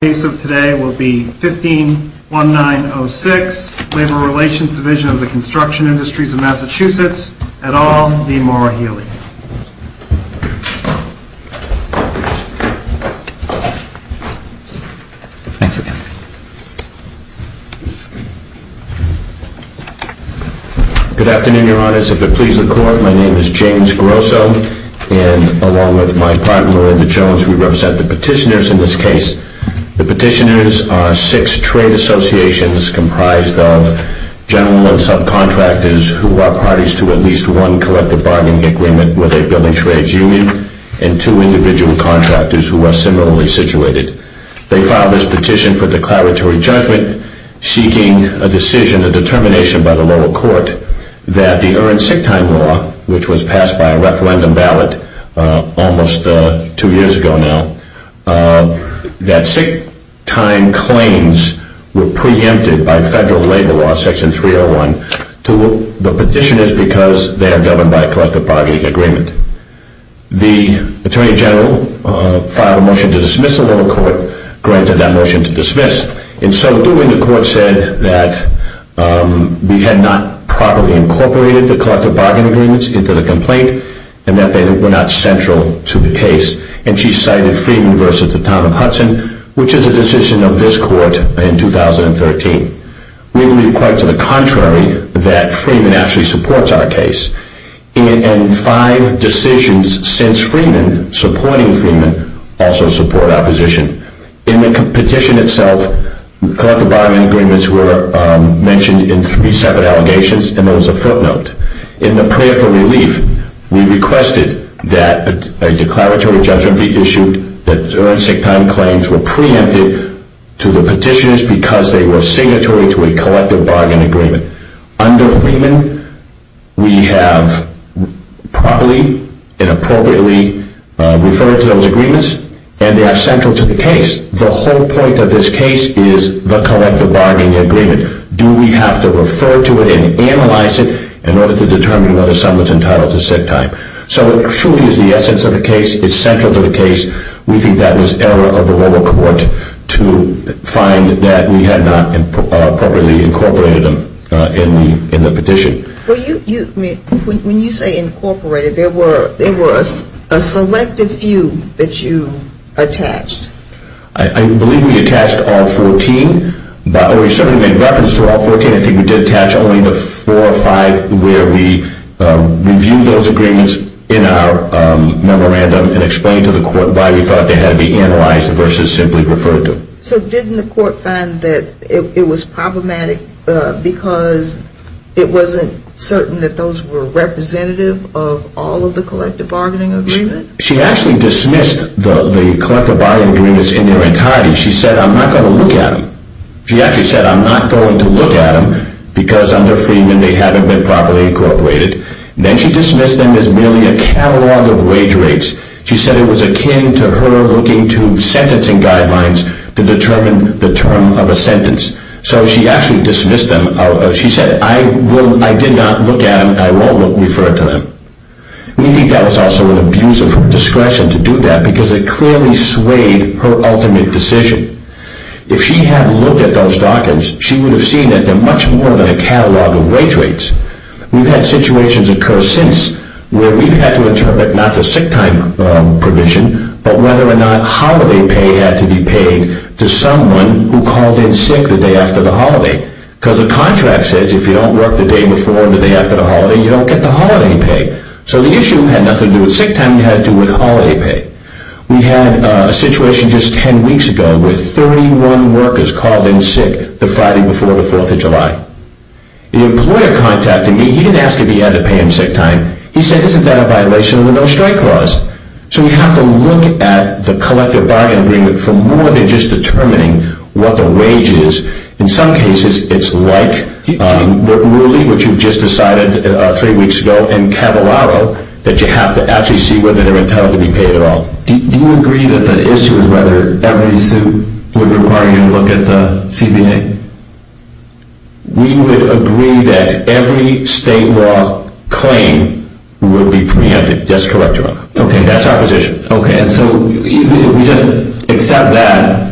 The case of today will be 15-19-06, Labor Relations Division of the Construction Industries of Massachusetts, et al. v. Maura Healey. Good afternoon, Your Honors. If it please the Court, my name is James Grosso, and along with my partner, Linda Jones, we represent the petitioners in this case. The petitioners are six trade associations comprised of general and subcontractors who are parties to at least one collective bargaining agreement with a building trades union, and two individual contractors who are similarly situated. They filed this petition for declaratory judgment, seeking a decision, a determination by the lower court that the earned sick time law, which was passed by a referendum ballot almost two years ago now, that sick time claims were preempted by federal labor law, section 301, to the petitioners because they are governed by a collective bargaining agreement. The Attorney General filed a motion to dismiss the lower court, granted that motion to dismiss, and so doing, the court said that we had not properly incorporated the collective bargaining agreements into the complaint and that they were not central to the case, and she cited Freeman v. The Town of Hudson, which is a decision of this court in 2013. We believe, quite to the contrary, that Freeman actually supports our case, and five decisions since Freeman, supporting Freeman, also support our position. In the petition itself, collective bargaining agreements were mentioned in three separate allegations, and there was a footnote. In the prayer for relief, we requested that a declaratory judgment be issued that earned sick time claims were preempted to the petitioners because they were signatory to a collective bargaining agreement. Under Freeman, we have properly and appropriately referred to those agreements, and they are central to the case. The whole point of this case is the collective bargaining agreement. Do we have to refer to it and analyze it in order to determine whether someone is entitled to sick time? So it truly is the essence of the case. It's central to the case. We think that was error of the lower court to find that we had not appropriately incorporated them in the petition. When you say incorporated, there were a selective few that you attached. I believe we attached all 14. We certainly made reference to all 14. I think we did attach only the four or five where we reviewed those agreements in our memorandum and explained to the court why we thought they had to be analyzed versus simply referred to. So didn't the court find that it was problematic because it wasn't certain that those were representative of all of the collective bargaining agreements? She actually dismissed the collective bargaining agreements in their entirety. She said, I'm not going to look at them. She actually said, I'm not going to look at them because under Freeman they haven't been properly incorporated. Then she dismissed them as merely a catalog of wage rates. She said it was akin to her looking to sentencing guidelines to determine the term of a sentence. So she actually dismissed them. She said, I did not look at them and I won't refer to them. We think that was also an abuse of her discretion to do that because it clearly swayed her ultimate decision. If she had looked at those documents, she would have seen that they're much more than a catalog of wage rates. We've had situations occur since where we've had to interpret not the sick time provision, but whether or not holiday pay had to be paid to someone who called in sick the day after the holiday. Because the contract says if you don't work the day before and the day after the holiday, you don't get the holiday pay. So the issue had nothing to do with sick time. It had to do with holiday pay. We had a situation just 10 weeks ago with 31 workers called in sick the Friday before the 4th of July. The employer contacted me. He didn't ask if he had to pay them sick time. He said, isn't that a violation of the no strike clause? So we have to look at the collective bargaining agreement for more than just determining what the wage is. In some cases, it's like Rooley, which you've just decided three weeks ago, and Cavallaro that you have to actually see whether they're intended to be paid at all. Do you agree that the issue is whether every suit would require you to look at the CBA? We would agree that every state law claim would be preempted. That's correct, Your Honor. Okay, that's our position. Okay, and so we just accept that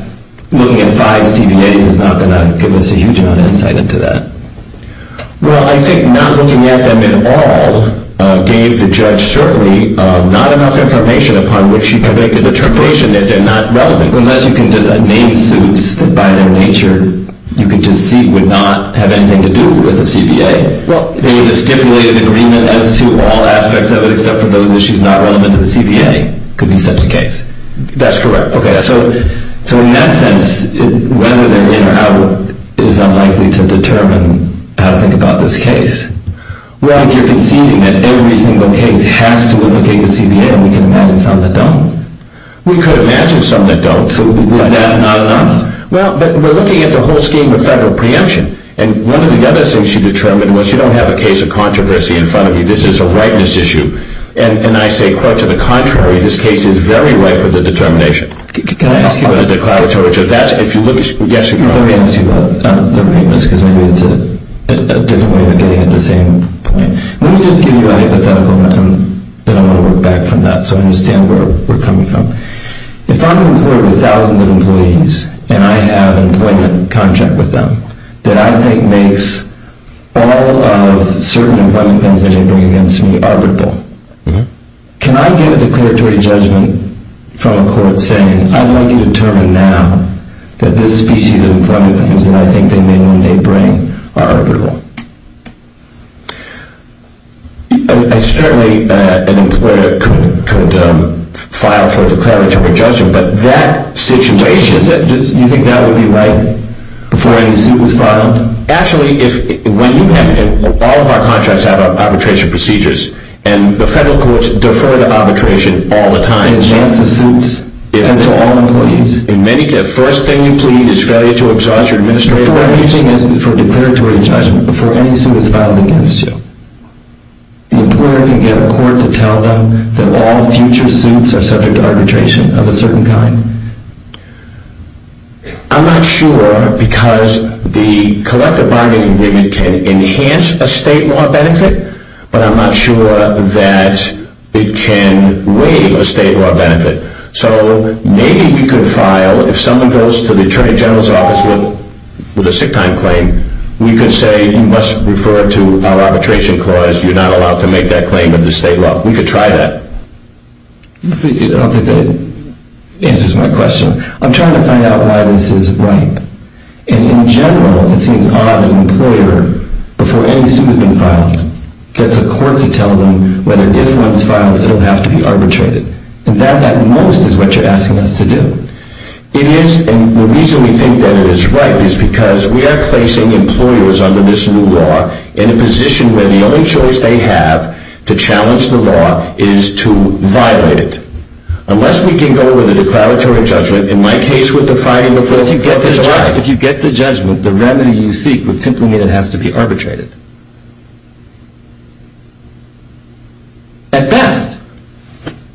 looking at five CBAs is not going to give us a huge amount of insight into that. Well, I think not looking at them at all gave the judge certainly not enough information upon which he predicted the termination that they're not relevant. Unless you can name suits that by their nature you can just see would not have anything to do with the CBA. Well, there was a stipulated agreement as to all aspects of it except for those issues not relevant to the CBA. It could be such a case. That's correct. Okay, so in that sense, whether they're in or out is unlikely to determine how to think about this case. Well, if you're conceding that every single case has to implicate the CBA and we can imagine some that don't. We could imagine some that don't, so is that not enough? Well, but we're looking at the whole scheme of federal preemption, and one of the other things she determined was you don't have a case of controversy in front of you. This is a rightness issue. And I say, quote, to the contrary, this case is very right for the determination. Can I ask you a question? Yes, you can. Let me ask you about the rightness because maybe it's a different way of getting at the same point. Let me just give you a hypothetical, and then I'm going to work back from that so I understand where we're coming from. If I'm an employer with thousands of employees and I have an employment contract with them that I think makes all of certain employment claims that they bring against me arbitrable, can I get a declaratory judgment from a court saying, I want you to determine now that this species of employment claims that I think they may one day bring are arbitrable? Certainly an employer could file for a declaratory judgment, but that situation, you think that would be right before any suit was filed? Actually, all of our contracts have arbitration procedures, and the federal courts defer to arbitration all the time. And that's a suit? That's for all employees? The first thing you plead is failure to exhaust your administrative rights. Before anything else, before a declaratory judgment, before any suit is filed against you, the employer can get a court to tell them that all future suits are subject to arbitration of a certain kind? I'm not sure because the collective bargaining agreement can enhance a state law benefit, but I'm not sure that it can waive a state law benefit. So maybe we could file, if someone goes to the Attorney General's office with a sick time claim, we could say you must refer to our arbitration clause, you're not allowed to make that claim under state law. We could try that. I don't think that answers my question. I'm trying to find out why this is right. And in general, it seems odd that an employer, before any suit has been filed, gets a court to tell them whether, if one's filed, it'll have to be arbitrated. And that, at most, is what you're asking us to do. It is, and the reason we think that it is right is because we are placing employers under this new law in a position where the only choice they have to challenge the law is to violate it. Unless we can go with a declaratory judgment, in my case with the Friday the 4th of July. If you get the judgment, the remedy you seek would simply mean it has to be arbitrated. At best.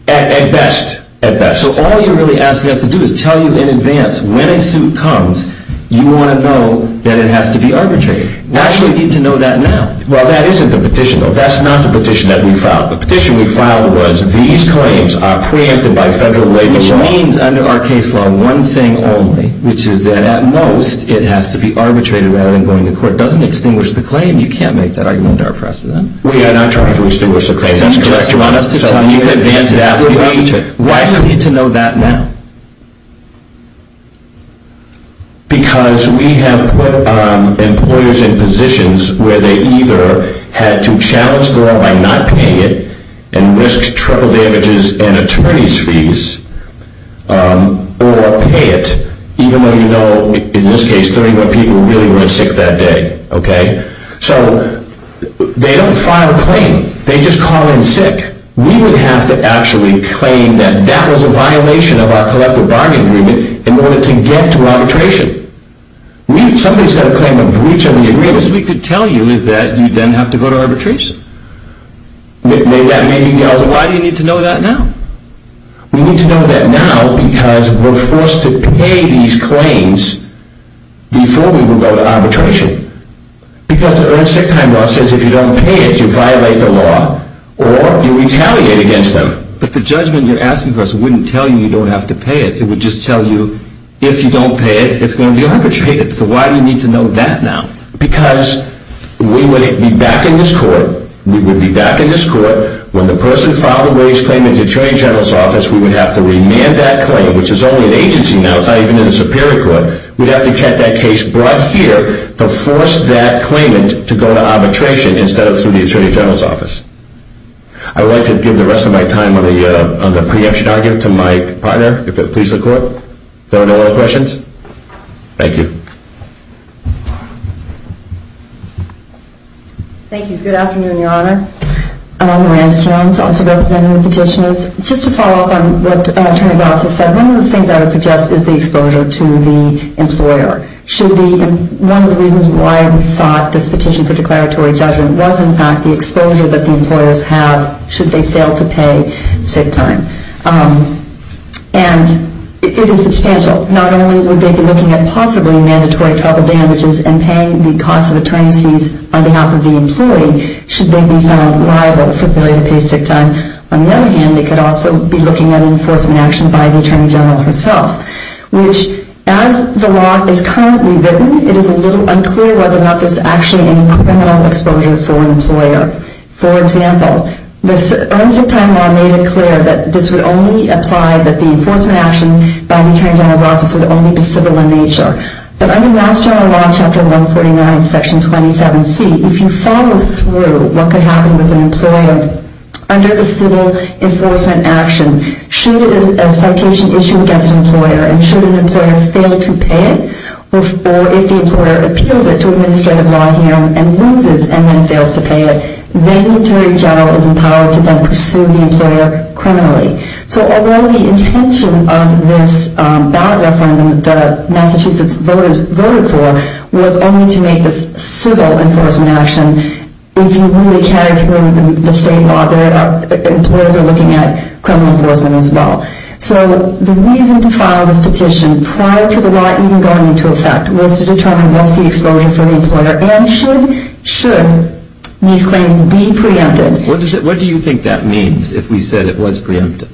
At best. At best. So all you're really asking us to do is tell you in advance, when a suit comes, you want to know that it has to be arbitrated. Why should we need to know that now? Well, that isn't the petition, though. That's not the petition that we filed. The petition we filed was, these claims are preempted by federal labor law. Which means, under our case law, one thing only, which is that, at most, it has to be arbitrated rather than going to court. It doesn't extinguish the claim. You can't make that argument under our precedent. We are not trying to extinguish the claim. That's correct, Your Honor. So you just want us to tell you in advance it has to be arbitrated. Why do we need to know that now? Because we have put employers in positions where they either had to challenge the law by not paying it and risk triple damages and attorney's fees, or pay it, even though you know, in this case, 31 people really were sick that day. Okay? So they don't file a claim. They just call in sick. We would have to actually claim that that was a violation of our collective bargaining agreement in order to get to arbitration. Somebody's got to claim a breach of the agreement. The best we could tell you is that you then have to go to arbitration. Why do you need to know that now? We need to know that now because we're forced to pay these claims before we will go to arbitration. Because the earned sick time law says if you don't pay it, you violate the law. Or you retaliate against them. But the judgment you're asking for us wouldn't tell you you don't have to pay it. It would just tell you if you don't pay it, it's going to be arbitrated. So why do you need to know that now? Because we would be back in this court. We would be back in this court. When the person filed a wage claim in the attorney general's office, we would have to remand that claim, which is only in agency now. It's not even in the superior court. We'd have to get that case brought here to force that claimant to go to arbitration instead of through the attorney general's office. I would like to give the rest of my time on the preemption argument to my partner, if it pleases the court. Is there no other questions? Thank you. Thank you. Good afternoon, Your Honor. Miranda Jones, also representing the petitioners. Just to follow up on what Attorney Glass has said, one of the things I would suggest is the exposure to the employer. One of the reasons why we sought this petition for declaratory judgment was, in fact, the exposure that the employers have should they fail to pay sick time. And it is substantial. Not only would they be looking at possibly mandatory travel damages and paying the cost of attorney's fees on behalf of the employee should they be found liable for failure to pay sick time. On the other hand, they could also be looking at enforcement action by the attorney general herself, which, as the law is currently written, it is a little unclear whether or not there's actually any criminal exposure for an employer. For example, the Earn Sick Time law made it clear that this would only apply, that the enforcement action by the attorney general's office would only be civil in nature. But under Mass General Law, Chapter 149, Section 27C, if you follow through what could happen with an employer under the civil enforcement action, should a citation issue against an employer and should an employer fail to pay it, or if the employer appeals it to administrative law hearing and loses and then fails to pay it, then the attorney general is empowered to then pursue the employer criminally. So although the intention of this ballot referendum that the Massachusetts voters voted for was only to make this civil enforcement action, if you really carry through the state law, the employers are looking at criminal enforcement as well. So the reason to file this petition prior to the law even going into effect was to determine what's the exposure for the employer and should these claims be preempted. What do you think that means if we said it was preempted?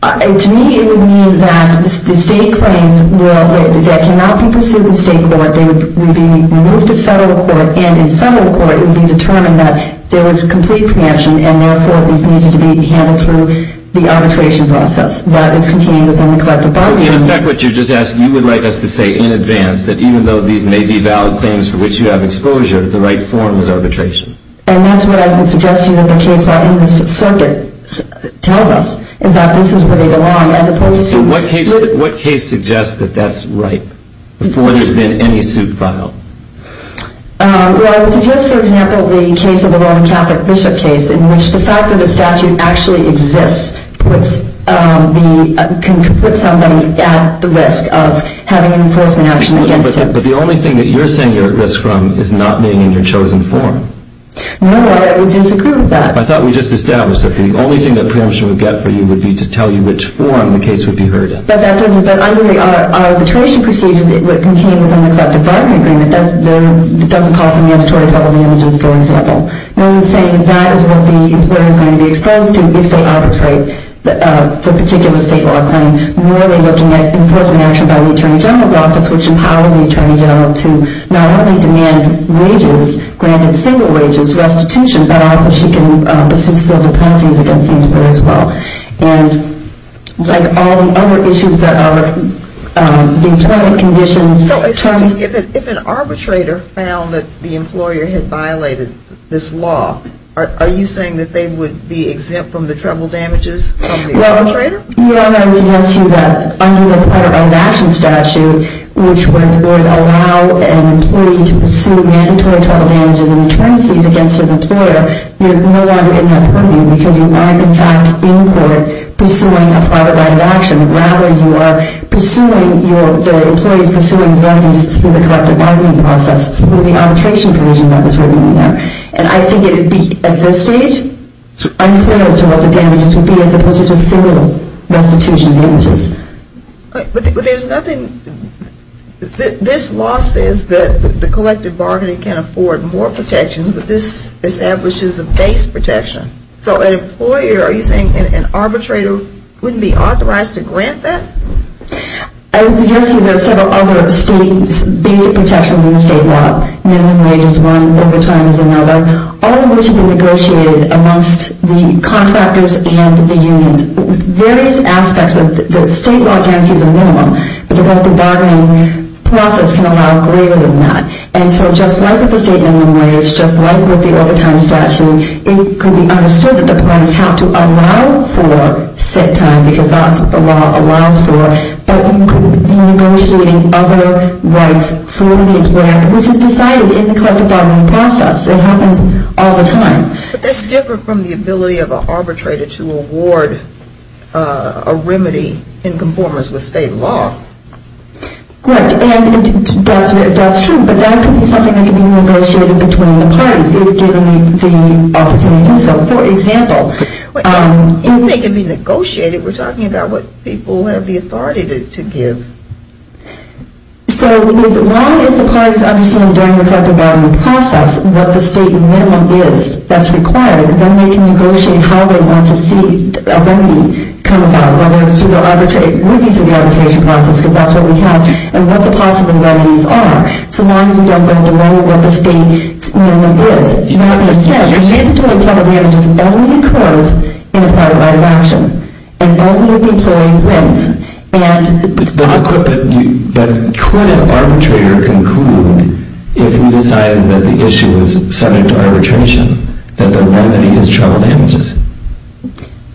To me, it would mean that the state claims that cannot be pursued in state court, they would be moved to federal court, and in federal court it would be determined that there was complete preemption and therefore these needed to be handled through the arbitration process that is contained within the collective bargaining agreement. So in effect what you're just asking, you would like us to say in advance that even though these may be valid claims for which you have exposure, the right form is arbitration. And that's what I would suggest to you that the case law in this circuit tells us, is that this is where they belong as opposed to... So what case suggests that that's right before there's been any suit filed? Well, I would suggest for example the case of the Roman Catholic Bishop case in which the fact that the statute actually exists can put somebody at the risk of having an enforcement action against him. But the only thing that you're saying you're at risk from is not being in your chosen form. No, I would disagree with that. I thought we just established that the only thing that preemption would get for you would be to tell you which form the case would be heard in. But that doesn't... But under the arbitration procedures contained within the collective bargaining agreement, it doesn't call for mandatory double damages, for example. No one's saying that is what the employer is going to be exposed to if they arbitrate for a particular state law claim. Nor are they looking at enforcement action by the Attorney General's office, which empowers the Attorney General to not only demand wages, granted single wages, restitution, but also she can pursue civil penalties against the employer as well. And like all the other issues that are the employment conditions... If an arbitrator found that the employer had violated this law, are you saying that they would be exempt from the trouble damages of the arbitrator? Well, you know, I would suggest to you that under the private action statute, which would allow an employee to pursue mandatory trouble damages and attorneys against his employer, you're no longer in that purview because you are, in fact, in court pursuing a private action. Rather, you are pursuing your... The employee is pursuing remedies through the collective bargaining process through the arbitration provision that was written in there. And I think it would be, at this stage, unclear as to what the damages would be as opposed to just civil restitution damages. But there's nothing... This law says that the collective bargaining can afford more protections, but this establishes a base protection. So an employer, are you saying an arbitrator wouldn't be authorized to grant that? I would suggest to you there are several other state basic protections in the state law. Minimum wage is one, overtime is another. All of which have been negotiated amongst the contractors and the unions. Various aspects of the state law guarantees a minimum, but the collective bargaining process can allow greater than that. And so just like with the state minimum wage, just like with the overtime statute, it could be understood that the parties have to allow for set time because that's what the law allows for, but you could be negotiating other rights for the employer, which is decided in the collective bargaining process. It happens all the time. But that's different from the ability of an arbitrator to award a remedy in conformance with state law. Right, and that's true, but that could be something that could be negotiated between the parties if given the opportunity to do so. For example... If they could be negotiated, we're talking about what people have the authority to give. So as long as the parties understand during the collective bargaining process what the state minimum is that's required, then they can negotiate how they want to see a remedy come about, whether it's through the arbitration process, because that's what we have, and what the possible remedies are. So as long as we don't go below what the state minimum is, that being said, your mandatory trouble damages only occurs in a private right of action, and only if the employee wins. But could an arbitrator conclude, if he decided that the issue was subject to arbitration, that the remedy is trouble damages?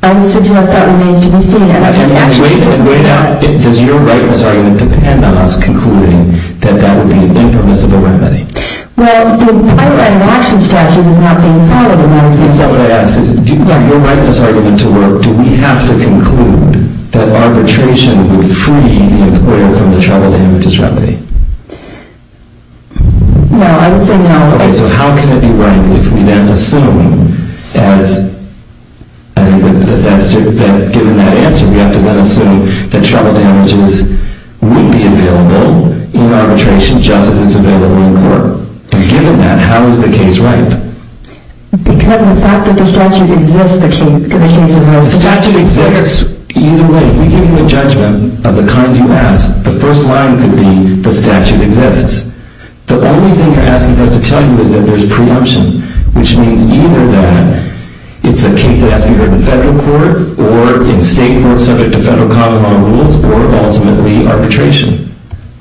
I would suggest that remains to be seen. And wait out. Does your rightness argument depend on us concluding that that would be an impermissible remedy? Well, the private right of action statute is not being followed... That's not what I asked. For your rightness argument to work, do we have to conclude that arbitration would free the employer from the trouble damages remedy? No, I would say no. Okay, so how can it be right if we then assume as... Given that answer, we have to then assume that trouble damages would be available in arbitration just as it's available in court. And given that, how is the case right? Because the fact that the statute exists, the case is... The statute exists either way. If we give you a judgment of the kind you asked, the first line could be, the statute exists. The only thing you're asking for us to tell you is that there's preemption, which means either that it's a case that has to be heard in federal court or in state court subject to federal common law rules or ultimately arbitration.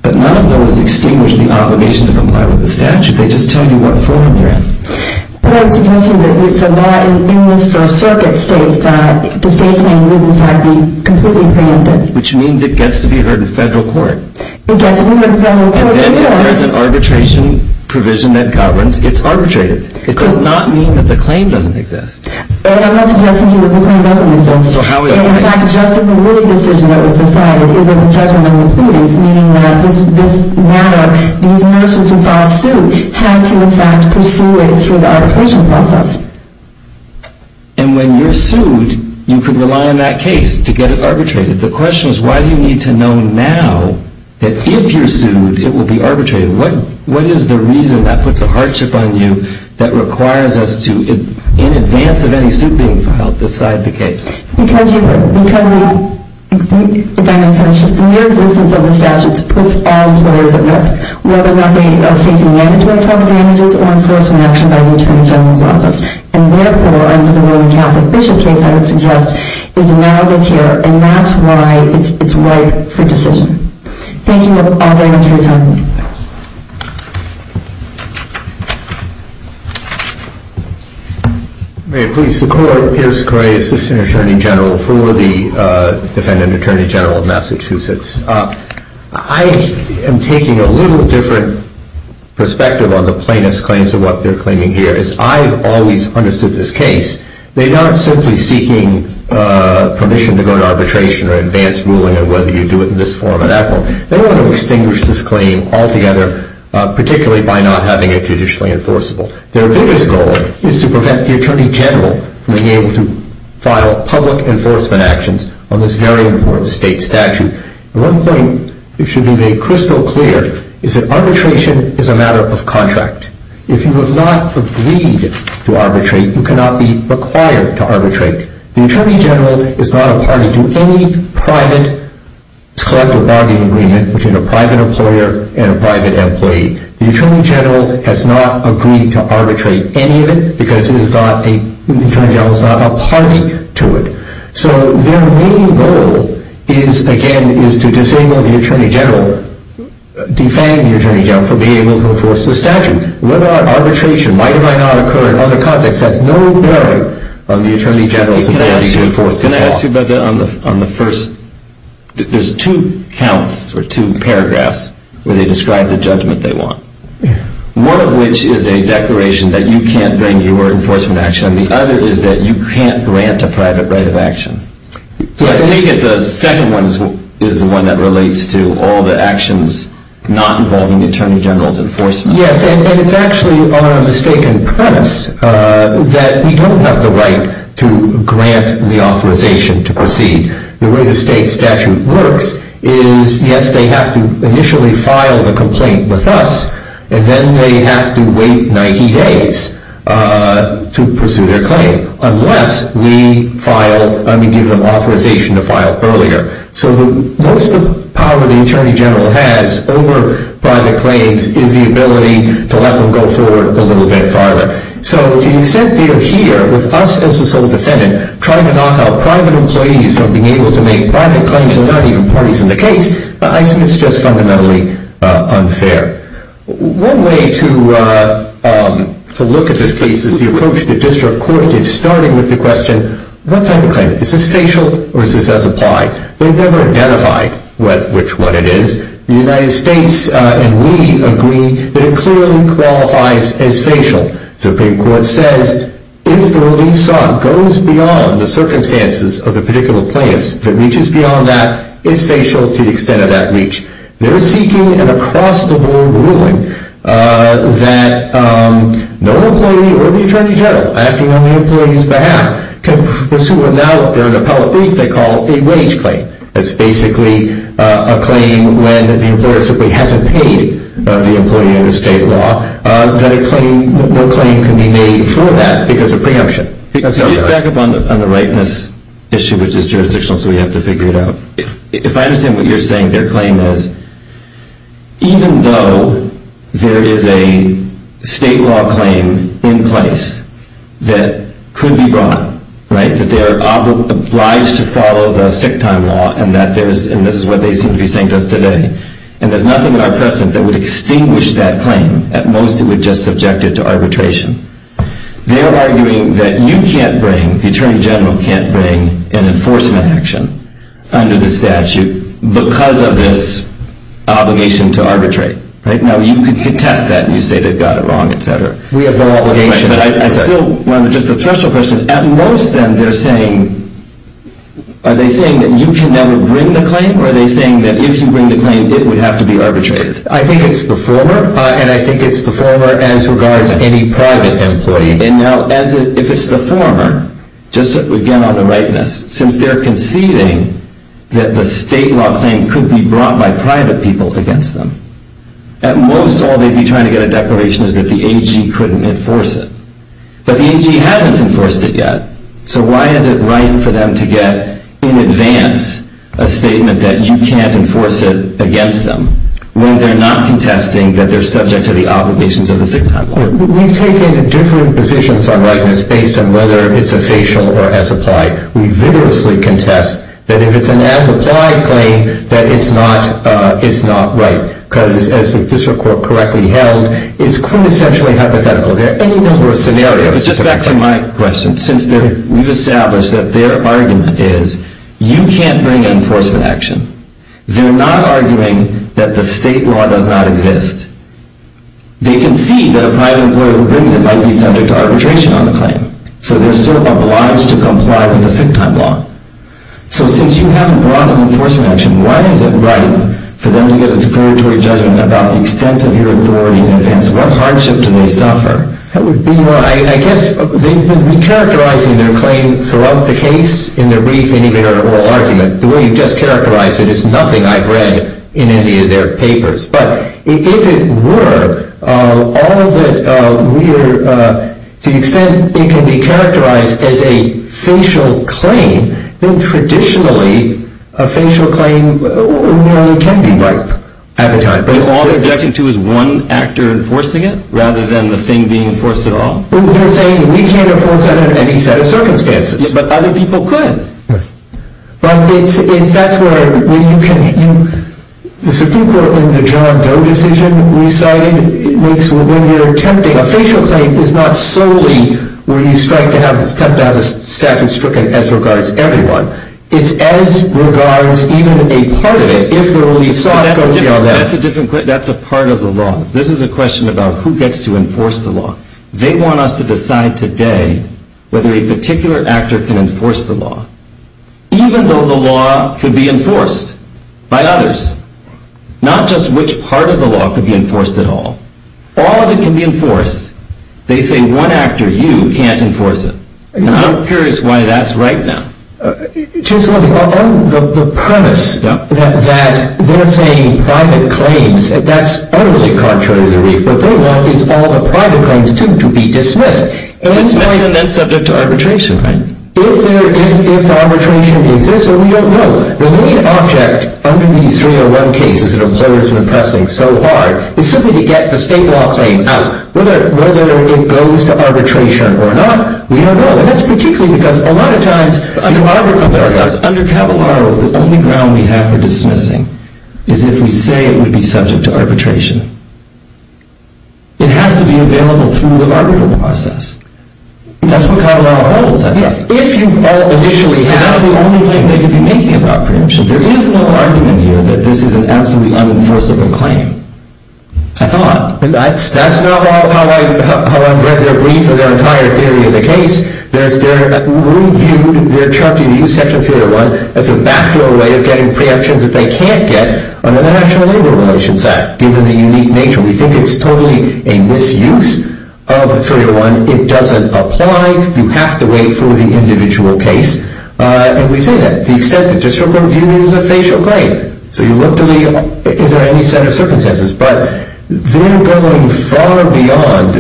But none of those extinguish the obligation to comply with the statute. They just tell you what forum you're in. But I'm suggesting that the law in this First Circuit states that the state claim wouldn't have to be completely preempted. Which means it gets to be heard in federal court. It gets heard in federal court. And then if there's an arbitration provision that governs, it's arbitrated. It does not mean that the claim doesn't exist. And I'm not suggesting that the claim doesn't exist. In fact, just in the word decision that was decided, if there was judgment on the proceedings, meaning that this matter, these nurses who filed suit, had to, in fact, pursue it through the arbitration process. And when you're sued, you could rely on that case to get it arbitrated. The question is, why do you need to know now that if you're sued, it will be arbitrated? What is the reason that puts a hardship on you that requires us to, in advance of any suit being filed, decide the case? Because you would. Because the mere existence of the statutes puts all employers at risk, whether or not they are facing management-friendly damages or enforcement action by the Attorney General's office. And therefore, under the Roman Catholic Bishop case, I would suggest, is narrowed this year. And that's why it's ripe for decision. Thank you all very much for your time. Thanks. May it please the Court. I'm Pierre Secore, Assistant Attorney General for the Defendant Attorney General of Massachusetts. I am taking a little different perspective on the plaintiff's claims and what they're claiming here. As I've always understood this case, they're not simply seeking permission to go to arbitration or advanced ruling, or whether you do it in this form or that form. They want to extinguish this claim altogether, particularly by not having it judicially enforceable. Their biggest goal is to prevent the Attorney General from being able to file public enforcement actions on this very important state statute. One thing that should be made crystal clear is that arbitration is a matter of contract. If you have not agreed to arbitrate, you cannot be required to arbitrate. The Attorney General is not a party to any private collective bargaining agreement between a private employer and a private employee. The Attorney General has not agreed to arbitrate any of it because the Attorney General is not a party to it. So their main goal, again, is to disable the Attorney General, defame the Attorney General for being able to enforce this statute. Whether or not arbitration might or might not occur in other contexts has no bearing on the Attorney General's ability to enforce this law. Can I ask you about that on the first... There's two counts, or two paragraphs, where they describe the judgment they want. One of which is a declaration that you can't bring your enforcement action and the other is that you can't grant a private right of action. So I take it the second one is the one that relates to all the actions not involving the Attorney General's enforcement. Yes, and it's actually on a mistaken premise that we don't have the right to grant the authorization to proceed. The way the state statute works is, yes, they have to initially file the complaint with us and then they have to wait 90 days to pursue their claim unless we give them authorization to file earlier. So most of the power the Attorney General has over private claims is the ability to let them go forward a little bit farther. So to the extent they are here with us as the sole defendant trying to knock out private employees from being able to make private claims and not even parties in the case, I think it's just fundamentally unfair. One way to look at this case is the approach the district court did starting with the question, what type of claim? Is this facial or is this as applied? They've never identified which one it is. The United States and we agree that it clearly qualifies as facial. The Supreme Court says if the relief sought goes beyond the circumstances of the particular plaintiffs, if it reaches beyond that, it's facial to the extent of that reach. They're seeking an across-the-board ruling that no employee or the Attorney General acting on the employee's behalf can pursue what now if they're in appellate brief they call a wage claim. It's basically a claim when the employer simply hasn't paid the employee under state law that no claim can be made for that because of preemption. Back up on the rightness issue, which is jurisdictional, so we have to figure it out. If I understand what you're saying, their claim is even though there is a state law claim in place that could be brought, right, that they're obliged to follow the sick time law and this is what they seem to be saying to us today, and there's nothing in our precedent that would extinguish that claim. At most, it would just subject it to arbitration. They're arguing that you can't bring, the Attorney General can't bring, an enforcement action under the statute because of this obligation to arbitrate. Now, you could contest that and you say they've got it wrong, et cetera. We have no obligation, but I still want to address the threshold question. At most, then, they're saying, are they saying that you can never bring the claim or are they saying that if you bring the claim, it would have to be arbitrated? I think it's the former and I think it's the former as regards any private employee. Now, if it's the former, just again on the rightness, since they're conceding that the state law claim could be brought by private people against them, at most all they'd be trying to get a declaration is that the AG couldn't enforce it. But the AG hasn't enforced it yet, so why is it right for them to get in advance a statement that you can't enforce it against them when they're not contesting that they're subject to the obligations of the state law? We've taken different positions on rightness based on whether it's a facial or as applied. We vigorously contest that if it's an as applied claim, that it's not right because as the district court correctly held, it's quintessentially hypothetical. There are any number of scenarios. It's just back to my question. Since we've established that their argument is you can't bring an enforcement action, they're not arguing that the state law does not exist. They concede that a private employer who brings it might be subject to arbitration on the claim, so they're still obliged to comply with the sick time law. So since you haven't brought an enforcement action, why is it right for them to get a declaratory judgment about the extent of your authority in advance? What hardship do they suffer? I guess they've been characterizing their claim throughout the case, in their brief, and even in their oral argument. The way you've just characterized it is nothing I've read in any of their papers. But if it were, to the extent it can be characterized as a facial claim, then traditionally a facial claim nearly can be right at the time. But all they're objecting to is one actor enforcing it, rather than the thing being enforced at all? They're saying we can't enforce that under any set of circumstances. But other people could. But that's where the Supreme Court, in the John Doe decision, decided when you're attempting a facial claim, it's not solely where you strike to have the statute stricken as regards everyone. It's as regards even a part of it, if the relief slot goes beyond that. That's a different question. That's a part of the law. This is a question about who gets to enforce the law. They want us to decide today whether a particular actor can enforce the law, even though the law could be enforced by others. Not just which part of the law could be enforced at all. All of it can be enforced. They say one actor, you, can't enforce it. And I'm curious why that's right now. On the premise that they're saying private claims, that's utterly contrary to the relief. What they want is all the private claims, too, to be dismissed. Dismissed and then subject to arbitration, right? If arbitration exists, we don't know. The main object under these 301 cases that employers have been pressing so hard is simply to get the state law claim out. Whether it goes to arbitration or not, we don't know. And that's particularly because a lot of times under Caballero, the only ground we have for dismissing is if we say it would be subject to arbitration. It has to be available through the arbitral process. That's what Caballero holds, I trust. If you all initially have... So that's the only claim they could be making about preemption. There is no argument here that this is an absolutely unenforceable claim. I thought. That's not how I've read their brief or their entire theory of the case. We viewed their Charter Review Section 301 as a backdoor way of getting preemptions that they can't get under the National Labor Relations Act, given the unique nature. We think it's totally a misuse of 301. It doesn't apply. You have to wait for the individual case. And we say that. The extent that the district court viewed it as a facial claim. So you look to the... Is there any set of circumstances? But they're going far beyond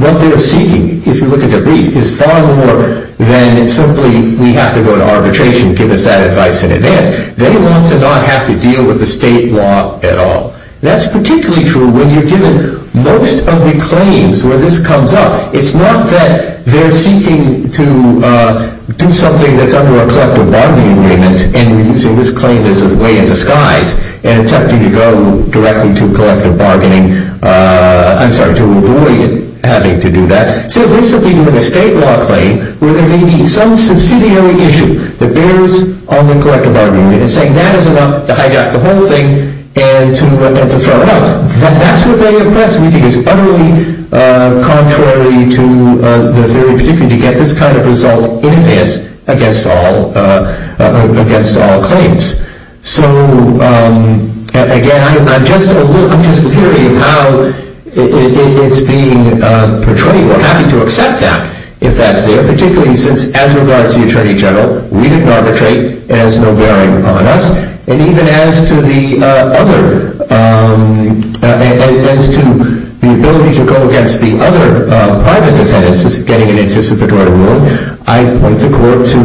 what they're seeking. If you look at the brief, it's far more than simply we have to go to arbitration, give us that advice in advance. They want to not have to deal with the state law at all. That's particularly true when you're given most of the claims where this comes up. It's not that they're seeking to do something that's under a collective bargaining agreement and we're using this claim as a way of disguise and attempting to go directly to collective bargaining. I'm sorry, to avoid having to do that. So basically doing a state law claim where there may be some subsidiary issue that bears on the collective bargaining agreement and saying that is enough to hijack the whole thing and to throw it out. That's what they oppress. We think it's utterly contrary to their theory, particularly to get this kind of result in advance against all claims. So again, I'm just hearing how it's being portrayed. We're happy to accept that if that's there, particularly since as regards to the Attorney General, we didn't arbitrate. It has no bearing upon us. And even as to the ability to go against the other private defendants getting an anticipatory ruling, I point the court to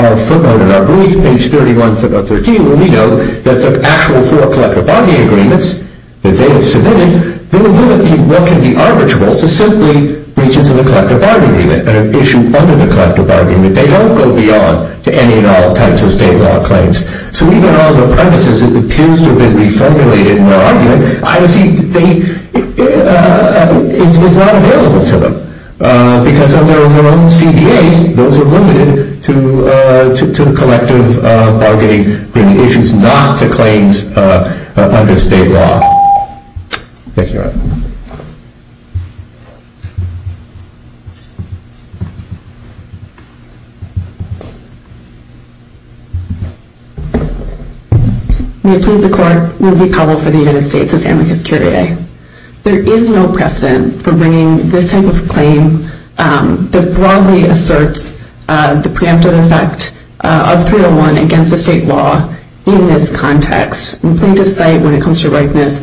our footnote in our brief, page 31, footnote 13, where we know that the actual four collective bargaining agreements that they have submitted, they limit what can be arbitrable to simply reaches to the collective bargaining agreement and an issue under the collective bargaining agreement. They don't go beyond to any and all types of state law claims. So even on the premises, it appears to have been reformulated in their argument. I would say it's not available to them because of their own CBAs. Those are limited to the collective bargaining agreements, not to claims under state law. Thank you. May it please the Court. Lindsay Powell for the United States. This is Amicus Curiae. There is no precedent for bringing this type of claim that broadly asserts the preemptive effect of 301 against the state law in this context. Plaintiffs cite, when it comes to ripeness,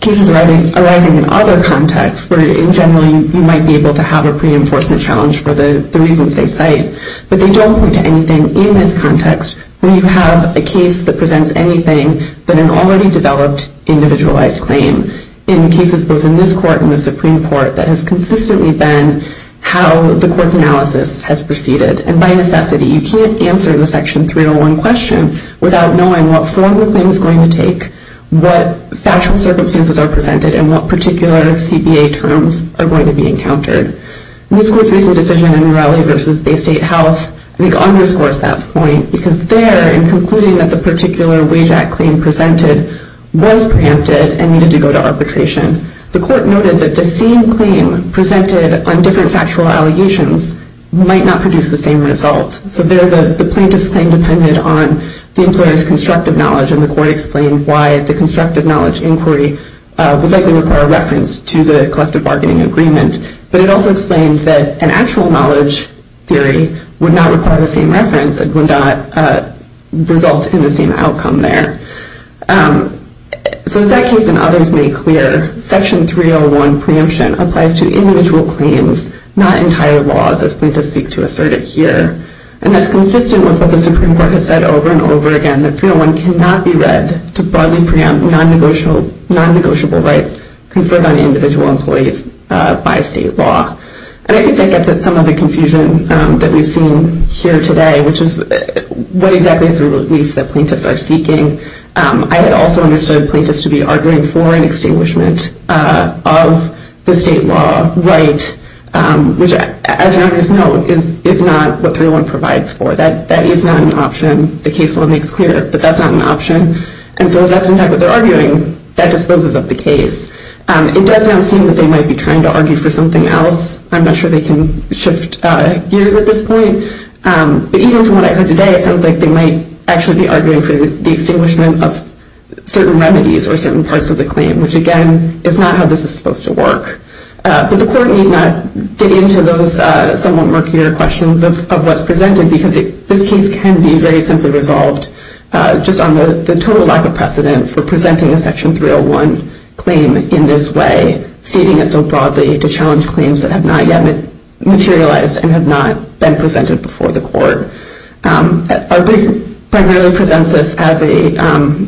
cases arising in other contexts where in general you might be able to have a pre-enforcement challenge for the reasons they cite, but they don't point to anything in this context where you have a case that presents anything but an already developed individualized claim in cases both in this Court and the Supreme Court that has consistently been how the Court's analysis has proceeded. And by necessity, you can't answer the Section 301 question without knowing what form the claim is going to take, what factual circumstances are presented, and what particular CBA terms are going to be encountered. This Court's recent decision in Raleigh v. Bay State Health, I think underscores that point, because there, in concluding that the particular Wage Act claim presented was preemptive and needed to go to arbitration, the Court noted that the same claim presented on different factual allegations might not produce the same result. So there, the plaintiff's claim depended on the employer's constructive knowledge, and the Court explained why the constructive knowledge inquiry would likely require reference to the collective bargaining agreement. But it also explained that an actual knowledge theory would not require the same reference and would not result in the same outcome there. So as that case and others made clear, Section 301 preemption applies to individual claims, not entire laws, as plaintiffs seek to assert it here. And that's consistent with what the Supreme Court has said over and over again, that 301 cannot be read to broadly preempt non-negotiable rights conferred on individual employees by state law. And I think that gets at some of the confusion that we've seen here today, which is what exactly is the relief that plaintiffs are seeking. I had also understood plaintiffs to be arguing for an extinguishment of the state law right, which, as an artist's note, is not what 301 provides for. That is not an option. The case law makes clear that that's not an option. And so if that's, in fact, what they're arguing, that disposes of the case. It does now seem that they might be trying to argue for something else. I'm not sure they can shift gears at this point. But even from what I heard today, it sounds like they might actually be arguing for the extinguishment of certain remedies or certain parts of the claim, which, again, is not how this is supposed to work. But the Court need not get into those somewhat murkier questions of what's presented because this case can be very simply resolved just on the total lack of precedent for presenting a Section 301 claim in this way, stating it so broadly to challenge claims that have not yet materialized and have not been presented before the Court. Our brief primarily presents this as a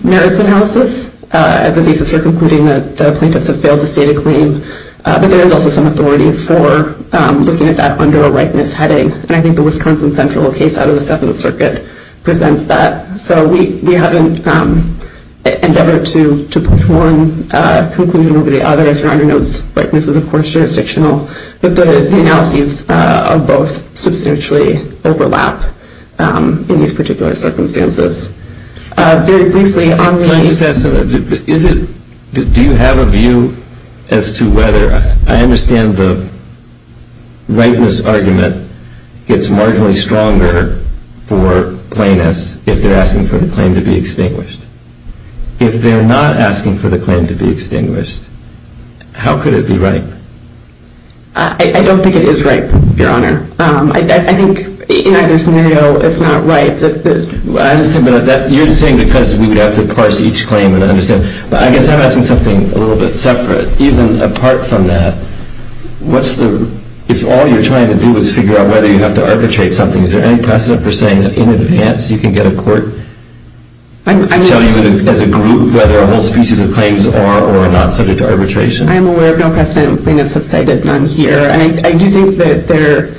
merits analysis, as a basis for concluding that the plaintiffs have failed to state a claim. But there is also some authority for looking at that under a rightness heading. And I think the Wisconsin Central case out of the Seventh Circuit presents that. So we haven't endeavored to point to one concluding over the others. Your Honor, no, this is, of course, jurisdictional. But the analyses of both substantially overlap in these particular circumstances. Very briefly, on the- Can I just ask, do you have a view as to whether- the rightness argument gets marginally stronger for plaintiffs if they're asking for the claim to be extinguished? If they're not asking for the claim to be extinguished, how could it be right? I don't think it is right, Your Honor. I think in either scenario it's not right. You're saying because we would have to parse each claim and understand. But I guess I'm asking something a little bit separate. Even apart from that, what's the- if all you're trying to do is figure out whether you have to arbitrate something, is there any precedent for saying that in advance you can get a court to tell you as a group whether a whole species of claims are or are not subject to arbitration? I am aware of no precedent. Plaintiffs have cited none here. And I do think that there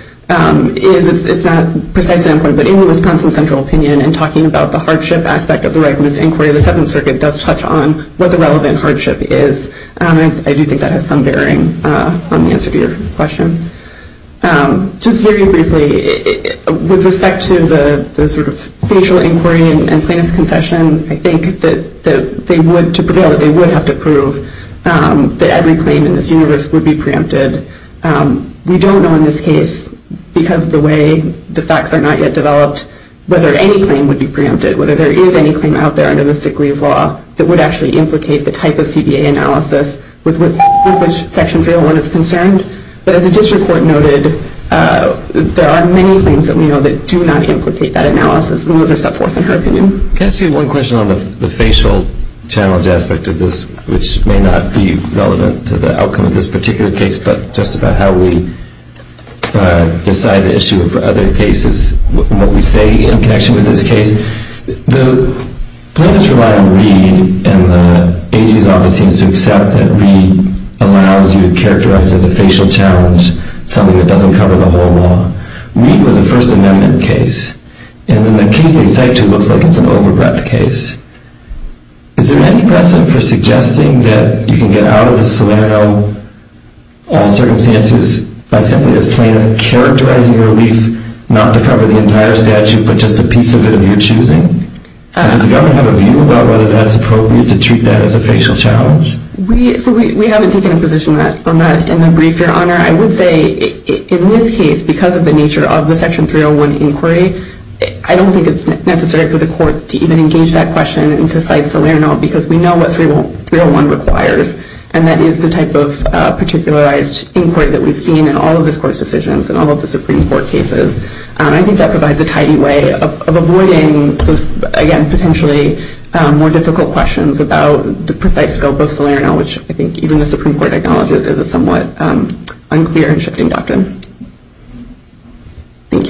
is- it's not precisely important. But in the Wisconsin Central opinion, in talking about the hardship aspect of the rightness inquiry, the Seventh Circuit does touch on what the relevant hardship is. I do think that has some bearing on the answer to your question. Just very briefly, with respect to the sort of spatial inquiry and plaintiff's concession, I think that they would have to prove that every claim in this universe would be preempted. We don't know in this case, because of the way the facts are not yet developed, whether any claim would be preempted, whether there is any claim out there under the sick leave law that would actually implicate the type of CBA analysis with which Section 301 is concerned. But as the district court noted, there are many claims that we know that do not implicate that analysis, and those are set forth in her opinion. Can I ask you one question on the facial challenge aspect of this, which may not be relevant to the outcome of this particular case, but just about how we decide the issue of other cases, and what we say in connection with this case? The plaintiffs rely on Reed, and the AG's office seems to accept that Reed allows you to characterize as a facial challenge something that doesn't cover the whole law. Reed was a First Amendment case, and in the case they cite it looks like it's an over-breath case. Is there any precedent for suggesting that you can get out of the Salerno, all circumstances, by simply as plaintiff characterizing your relief, not to cover the entire statute, but just a piece of it of your choosing? Does the government have a view about whether that's appropriate to treat that as a facial challenge? We haven't taken a position on that in the brief, Your Honor. I would say in this case, because of the nature of the Section 301 inquiry, I don't think it's necessary for the court to even engage that question and to cite Salerno, because we know what 301 requires, and that is the type of particularized inquiry that we've seen in all of this court's decisions, in all of the Supreme Court cases. I think that provides a tidy way of avoiding, again, potentially more difficult questions about the precise scope of Salerno, which I think even the Supreme Court acknowledges is a somewhat unclear and shifting doctrine. Thank you.